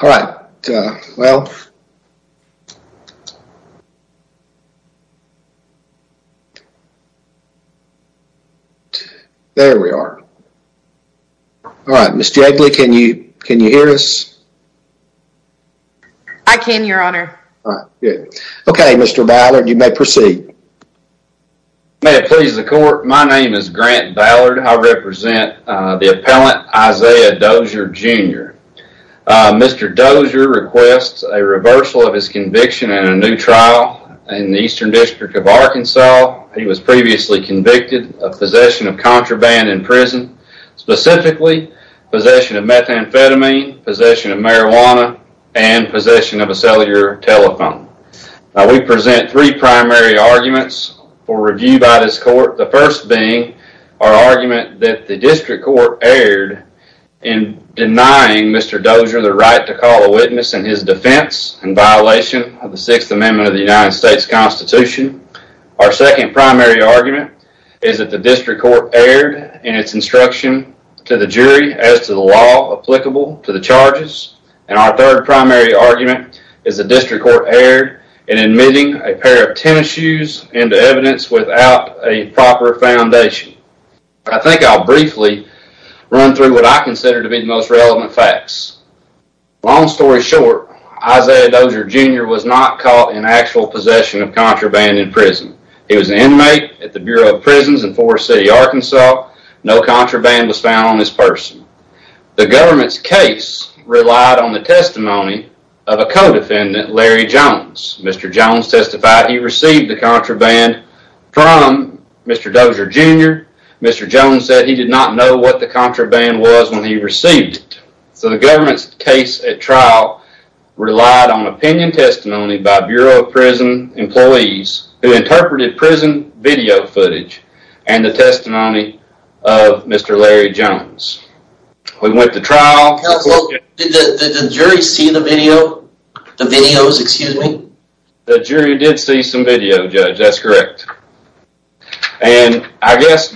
All right. Well. There we are. All right, Mr. Eggly, can you can you hear us? I can, your honor. Okay, Mr. Ballard, you may proceed. May it please the court. My name is Grant Ballard. I represent the appellant Isiah Dozier, Jr. Mr. Dozier requests a reversal of his conviction in a new trial in the Eastern District of Arkansas. He was previously convicted of possession of contraband in prison, specifically possession of methamphetamine, possession of marijuana, and possession of a cellular telephone. Now, we present three primary arguments for review by this court. The first being our argument that the district court erred in denying Mr. Dozier the right to call a witness in his defense in violation of the Sixth Amendment of the United States Constitution. Our second primary argument is that the district court erred in its instruction to the jury as to the law applicable to the charges. And our third primary argument is the district court erred in admitting a pair of tennis shoes into evidence without a proper foundation. I think I'll briefly run through what I consider to be the most relevant facts. Long story short, Isiah Dozier, Jr. was not caught in actual possession of contraband in prison. He was an inmate at the Bureau of Prisons in Forest City, Arkansas. No contraband was found on this person. The government's case relied on the testimony of a co-defendant, Larry Jones. Mr. Jones testified he received the contraband from Mr. Dozier, Jr. Mr. Jones said he did not know what the contraband was when he received it. So the government's case at trial relied on opinion testimony by Bureau of Prison employees who interpreted prison video footage and the testimony of Mr. Larry Jones. We went to trial... Counsel, did the jury see the video? The videos, excuse me? The jury did see some video, Judge, that's correct. And I guess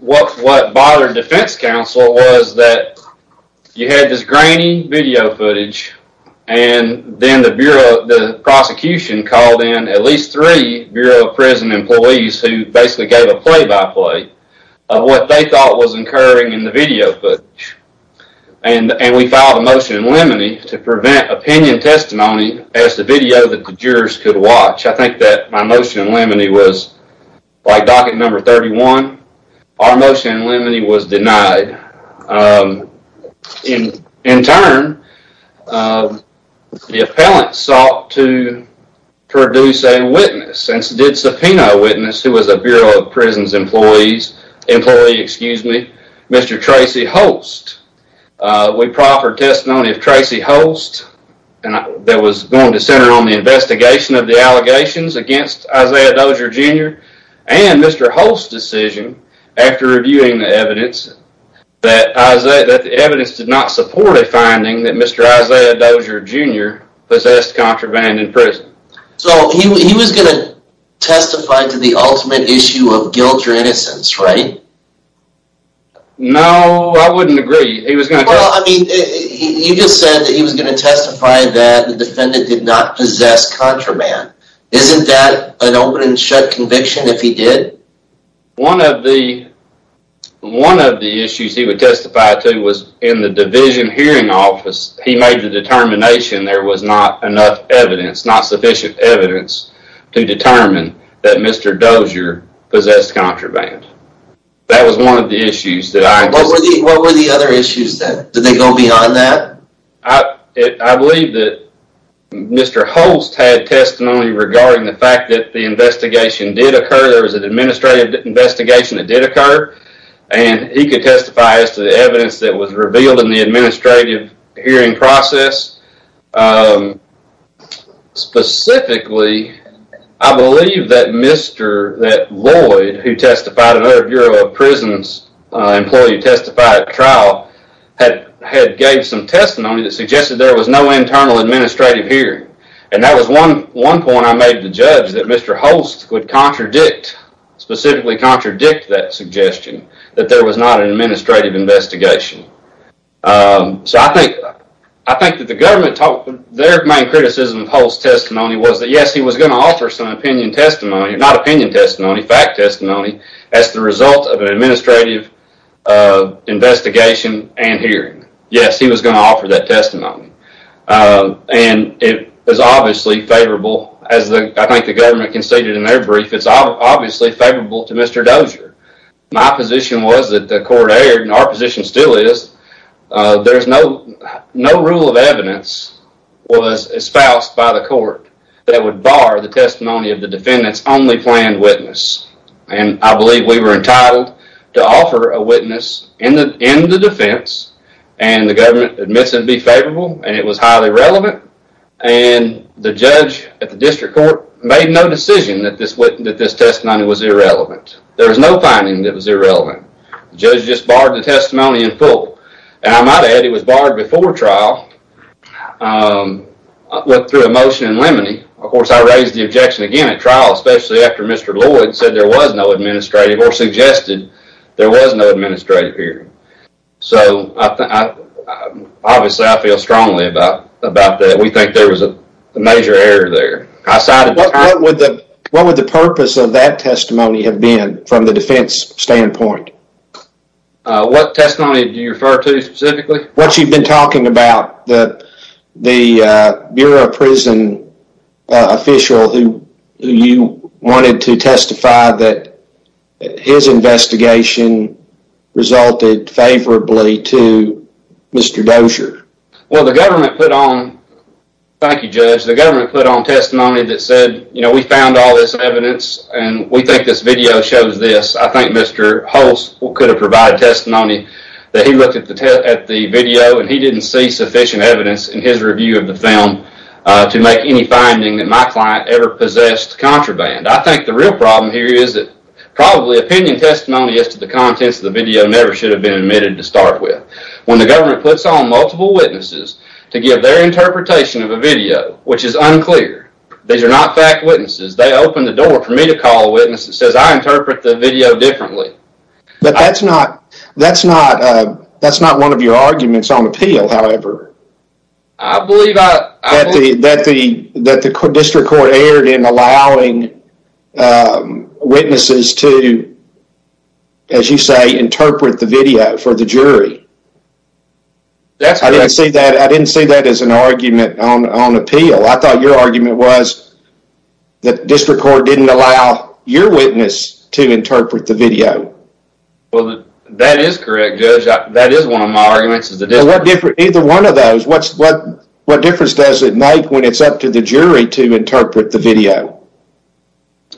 what bothered defense counsel was that you had this grainy video footage and then the prosecution called in at least three Bureau of Prison employees who basically gave a play-by-play of what they thought was occurring in the video footage. And we filed a motion in limine to prevent opinion testimony as the video that the jurors could watch. I think that my motion in limine was by docket number 31. Our motion in limine was denied. In turn, the appellant sought to produce a witness and did subpoena a witness who was a Bureau of Prisons employee, Mr. Tracy Holst. We proffered testimony of Tracy Holst that was going to center on the investigation of the allegations against Isaiah Dozier Jr. and Mr. Holst's decision, after reviewing the evidence, that the evidence did not support a finding that Mr. Isaiah Dozier Jr. possessed contraband in prison. So he was going to testify to the ultimate issue of guilt or innocence, right? No, I wouldn't agree. Well, I mean, you just said that he was going to testify that the defendant did not possess contraband. Isn't that an open and shut conviction if he did? One of the issues he would testify to was in the division hearing office. He made the determination there was not enough evidence, not sufficient evidence, to determine that Mr. Dozier possessed contraband. That was one of the issues that I believe. What were the other issues? Did they go beyond that? I believe that Mr. Holst had testimony regarding the fact that the investigation did occur. There was an administrative investigation that did occur, and he could testify as to the evidence that was revealed in the administrative hearing process. Specifically, I believe that Lloyd, who testified in other Bureau of Prisons employee testified trial, had gave some testimony that suggested there was no internal administrative hearing, and that was one point I made to judge that Mr. Holst would contradict, specifically contradict that suggestion, that there was not an administrative investigation. I think that the government, their main criticism of Holst's testimony was that, yes, he was going to offer some opinion testimony, not opinion testimony, fact testimony, as the result of an administrative investigation and hearing. Yes, he was going to offer that testimony. It was obviously favorable, as I think the government conceded in their brief, it's obviously favorable to Mr. Dozier. My position was that the court aired, and our position still is, there's no rule of evidence was espoused by the court that would bar the testimony of the defendant's only planned witness, and I believe we were entitled to offer a witness in the defense, and the government admits it would be favorable, and it was highly relevant, and the judge at the district court made no decision that this testimony was irrelevant. There was no finding that was irrelevant. The judge just barred the testimony in full, and I might add it was barred before trial, went through a motion in limine. Of course, I raised the objection again at trial, especially after Mr. Lloyd said there was no administrative or suggested there was no administrative hearing. So, obviously, I feel strongly about that. We think there was a major error there. What would the purpose of that testimony have been from the defense standpoint? What testimony do you refer to specifically? What you've been talking about, the Bureau of Prison official who you wanted to testify that his investigation resulted favorably to Mr. Dozier. Well, the government put on, thank you, Judge, the government put on testimony that said, you know, we found all this evidence, and we think this video shows this. I think Mr. Hulse could have provided testimony that he looked at the video and he didn't see sufficient evidence in his review of the film to make any finding that my client ever possessed contraband. I think the real problem here is that probably opinion testimony as to the contents of the video never should have been admitted to start with. When the government puts on multiple witnesses to give their interpretation of a video, which is unclear, these are not fact witnesses, they open the door for me to call a witness that says, I interpret the video differently. But that's not one of your arguments on appeal, however. I believe I... That the district court erred in allowing witnesses to, as you say, interpret the video for the jury. That's correct. I didn't see that as an argument on appeal. I thought your argument was that district court didn't allow your witness to interpret the video. Well, that is correct, Judge. That is one of my arguments. Either one of those, what difference does it make when it's up to the jury to interpret the video?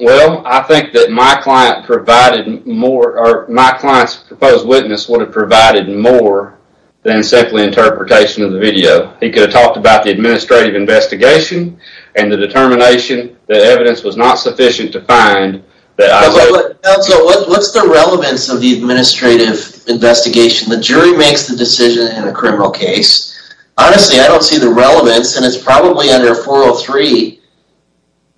Well, I think that my client provided more, or my client's proposed witness would have provided more than simply interpretation of the video. He could have talked about the administrative investigation and the determination that evidence was not sufficient to find that I... Counsel, what's the relevance of the administrative investigation? The jury makes the decision in a criminal case. Honestly, I don't see the relevance, and it's probably under 403,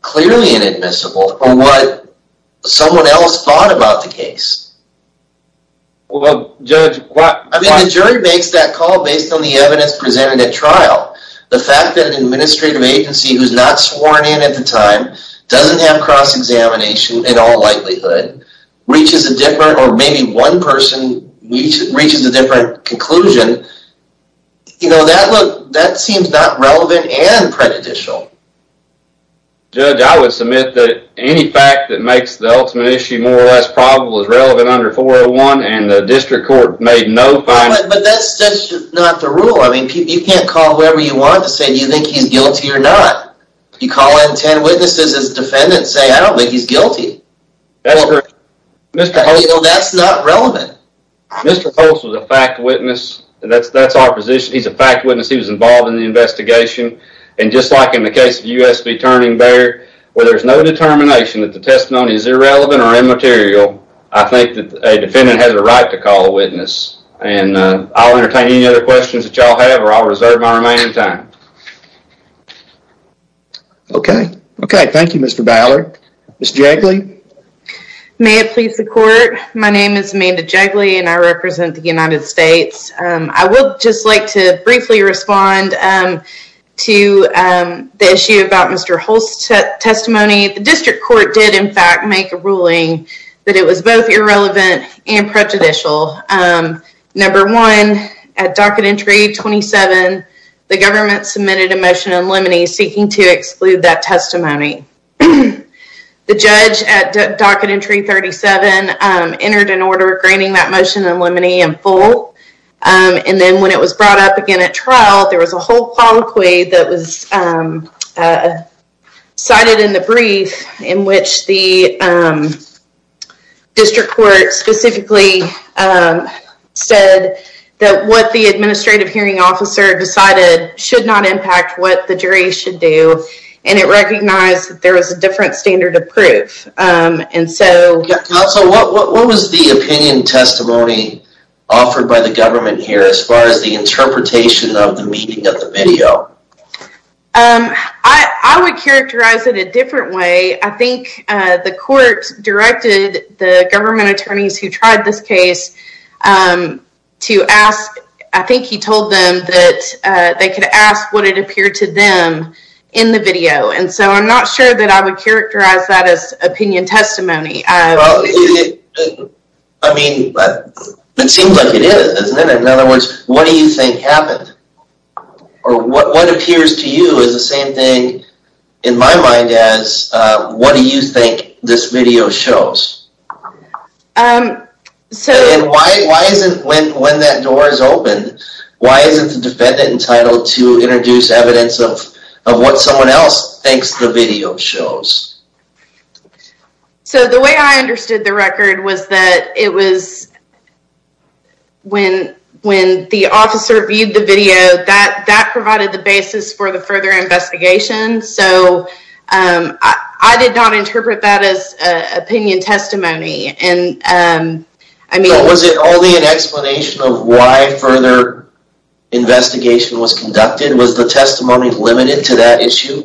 clearly inadmissible, or what someone else thought about the case. Well, Judge, why... I mean, the jury makes that call based on the evidence presented at trial. The fact that an administrative agency who's not sworn in at the time doesn't have cross-examination in all likelihood reaches a different, or maybe one person reaches a different conclusion, you know, that seems not relevant and prejudicial. Judge, I would submit that any fact that makes the ultimate issue more or less probable is relevant under 401, and the district court made no final... But that's just not the rule. I mean, you can't call whoever you want to say, do you think he's guilty or not? You call in ten witnesses as defendants, say, I don't think he's guilty. That's correct. You know, that's not relevant. Mr. Holtz was a fact witness. That's our position. He's a fact witness. He was involved in the investigation. And just like in the case of U.S. v. Turning Bear, where there's no determination that the testimony is irrelevant or immaterial, I think that a defendant has a right to call a witness. And I'll entertain any other questions that y'all have, or I'll reserve my remaining time. Okay. Okay, thank you, Mr. Ballard. Ms. Jagley? May it please the court, my name is Amanda Jagley, and I represent the United States. I would just like to briefly respond to the issue about Mr. Holtz's testimony. The district court did, in fact, make a ruling that it was both irrelevant and prejudicial. Number one, at docket entry 27, the government submitted a motion in limine seeking to exclude that testimony. The judge at docket entry 37 entered an order granting that motion in limine in full. And then when it was brought up again at trial, there was a whole colloquy that was cited in the brief in which the district court specifically said that what the administrative hearing officer decided should not impact what the jury should do, and it recognized that there was a different standard of proof. And so... Counsel, what was the opinion testimony offered by the government here as far as the interpretation of the meaning of the video? I would characterize it a different way. I think the court directed the government attorneys who tried this case to ask, I think he told them that they could ask what it appeared to them in the video. And so I'm not sure that I would characterize that as opinion testimony. In other words, what do you think happened? Or what appears to you is the same thing in my mind as, what do you think this video shows? And why isn't, when that door is open, why isn't the defendant entitled to introduce evidence of what someone else thinks the video shows? So the way I understood the record was that it was when the officer viewed the video, that provided the basis for the further investigation. So I did not interpret that as opinion testimony. And I mean... Was it only an explanation of why further investigation was conducted? Was the testimony limited to that issue?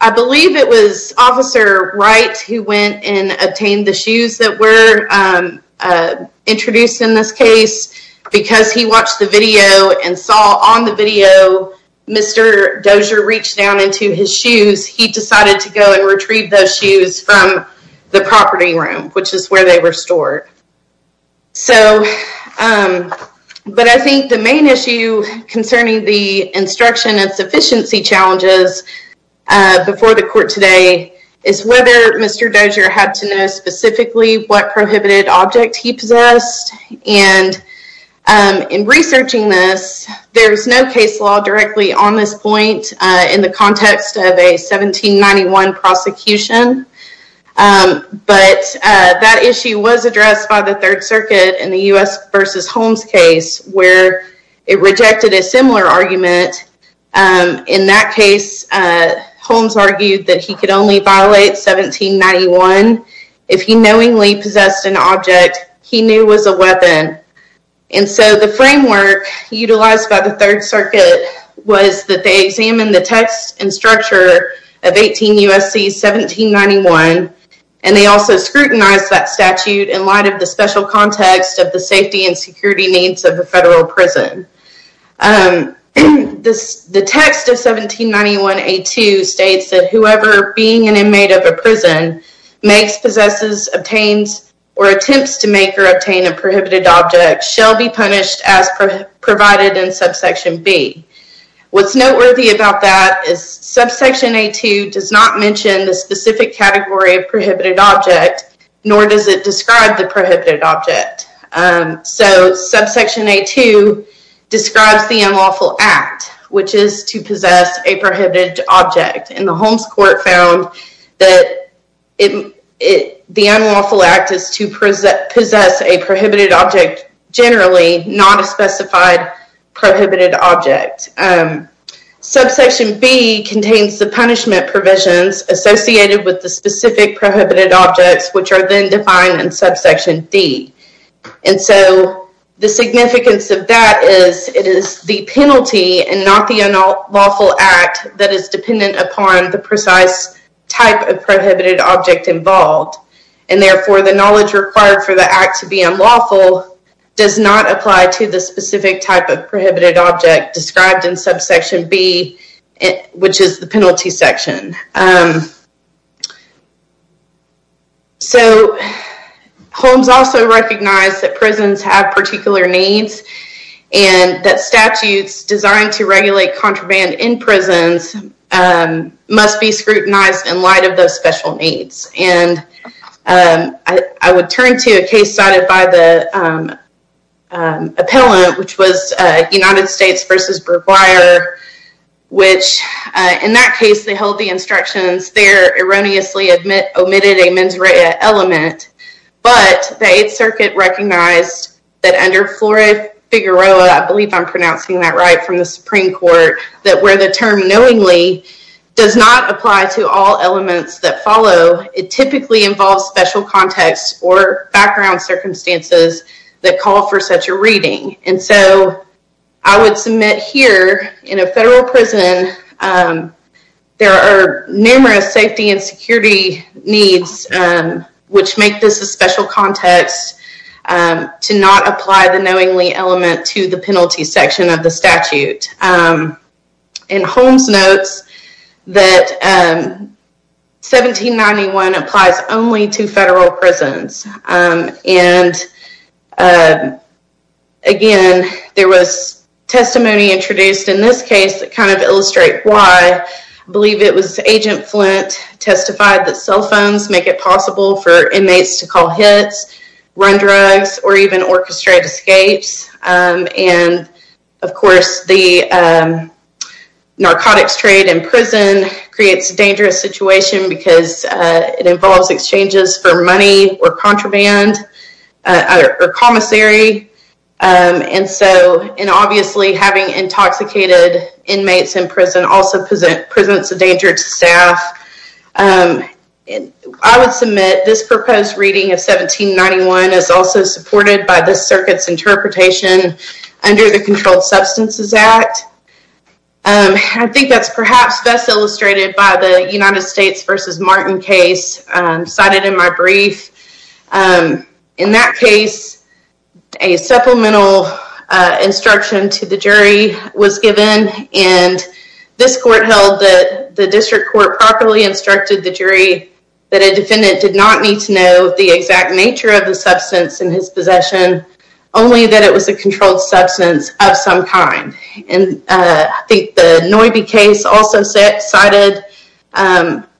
I believe it was Officer Wright who went and obtained the shoes that were introduced in this case. Because he watched the video and saw on the video, Mr. Dozier reached down into his shoes, he decided to go and retrieve those shoes from the property room, which is where they were stored. So... But I think the main issue concerning the instruction and sufficiency challenges, before the court today, is whether Mr. Dozier had to know specifically what prohibited object he possessed. And in researching this, there's no case law directly on this point in the context of a 1791 prosecution. But that issue was addressed by the Third Circuit in the U.S. v. Holmes case, where it rejected a similar argument. In that case, Holmes argued that he could only violate 1791 if he knowingly possessed an object he knew was a weapon. And so the framework utilized by the Third Circuit was that they examined the text and structure of 18 U.S.C. 1791, and they also scrutinized that statute in light of the special context of the safety and security needs of a federal prison. The text of 1791A2 states that whoever being an inmate of a prison makes, possesses, obtains, or attempts to make or obtain a prohibited object shall be punished as provided in subsection B. What's noteworthy about that is subsection A2 does not mention the specific category of prohibited object, nor does it describe the prohibited object. So subsection A2 describes the unlawful act, which is to possess a prohibited object. And the Holmes court found that the unlawful act is to possess a prohibited object generally, not a specified prohibited object. Subsection B contains the punishment provisions associated with the specific prohibited objects, which are then defined in subsection D. And so the significance of that is it is the penalty and not the unlawful act that is dependent upon the precise type of prohibited object involved. And therefore the knowledge required for the act to be unlawful does not apply to the specific type of prohibited object described in subsection B, which is the penalty section. So Holmes also recognized that prisons have particular needs and that statutes designed to regulate contraband in prisons must be scrutinized in light of those special needs. And I would turn to a case cited by the appellant, which was United States v. Burbeier, which in that case they held the instructions there erroneously omitted a mens rea element, but the Eighth Circuit recognized that under Flore Figaroa, I believe I'm pronouncing that right from the Supreme Court, that where the term knowingly does not apply to all elements that follow, it typically involves special context or background circumstances that call for such a reading. And so I would submit here in a federal prison, there are numerous safety and security needs which make this a special context to not apply the knowingly element to the penalty section of the statute. And Holmes notes that 1791 applies only to federal prisons. And again, there was testimony introduced in this case that kind of illustrate why. I believe it was Agent Flint testified that cell phones make it possible for inmates to call hits, run drugs, or even orchestrate escapes. And of course, the narcotics trade in prison creates a dangerous situation because it involves exchanges for money or contraband or commissary. And so, and obviously having intoxicated inmates in prison also presents a danger to staff. I would submit this proposed reading of 1791 is also supported by the circuit's interpretation under the Controlled Substances Act. I think that's perhaps best illustrated by the United States v. Martin case cited in my brief. In that case, a supplemental instruction to the jury was given, and this court held that the district court properly instructed the jury that a defendant did not need to know the exact nature of the substance in his possession, only that it was a controlled substance of some kind. And I think the Noibi case also cited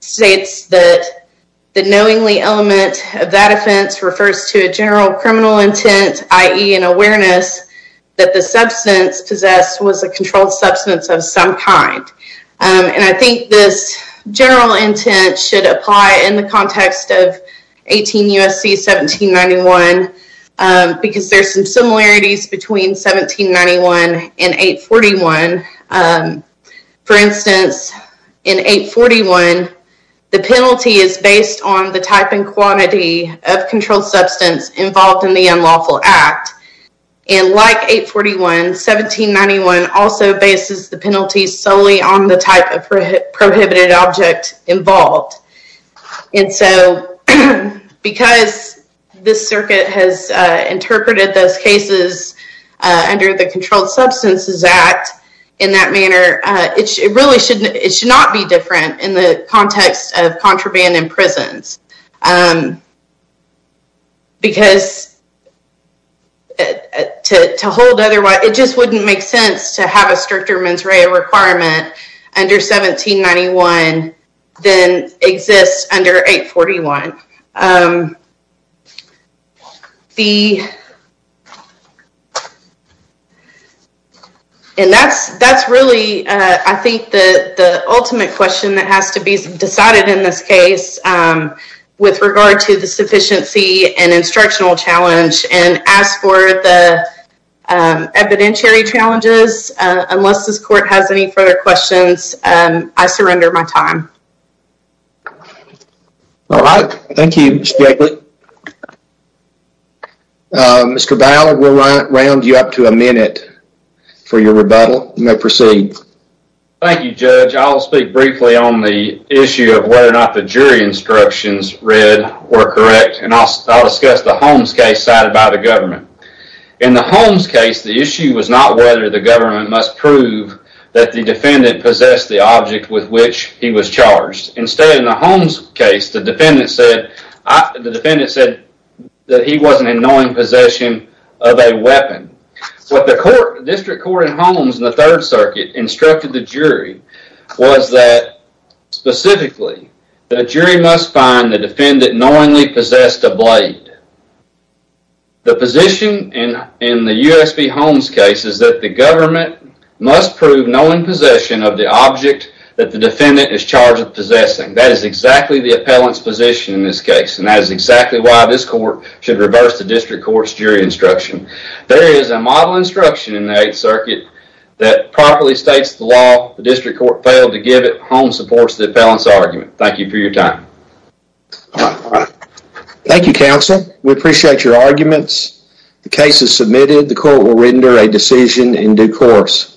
states that the knowingly element of that offense refers to a general criminal intent, i.e. an awareness that the substance possessed was a controlled substance of some kind. And I think this general intent should apply in the context of 18 U.S.C. 1791 because there's some similarities between 1791 and 841. For instance, in 841, the penalty is based on the type and quantity of controlled substance involved in the unlawful act. And like 841, 1791 also bases the penalty solely on the type of prohibited object involved. And so because this circuit has interpreted those cases under the Controlled Substances Act in that manner, it really should not be different in the context of contraband in prisons. Because to hold otherwise, it just wouldn't make sense to have a stricter mens rea requirement under 1791 than exists under 841. And that's really, I think, the ultimate question that has to be decided in this case with regard to the sufficiency and instructional challenge. And as for the evidentiary challenges, unless this court has any further questions, I surrender my time. All right. Thank you, Ms. Brackett. Mr. Bauer, we'll round you up to a minute for your rebuttal. You may proceed. Thank you, Judge. I'll speak briefly on the issue of whether or not the jury instructions read or correct. And I'll discuss the Holmes case cited by the government. In the Holmes case, the issue was not whether the government must prove that the defendant possessed the object with which he was charged. Instead, in the Holmes case, the defendant said that he wasn't in knowing possession of a weapon. What the District Court in Holmes in the Third Circuit instructed the jury was that, specifically, the jury must find the defendant knowingly possessed a blade. The position in the USP Holmes case is that the government must prove knowing possession of the object that the defendant is charged with possessing. That is exactly the appellant's position in this case. And that is exactly why this court should reverse the District Court's jury instruction. There is a model instruction in the Eighth Circuit that properly states the law. The District Court failed to give it. Holmes supports the appellant's argument. Thank you for your time. Thank you, counsel. We appreciate your arguments. The case is submitted. The court will render a decision in due course.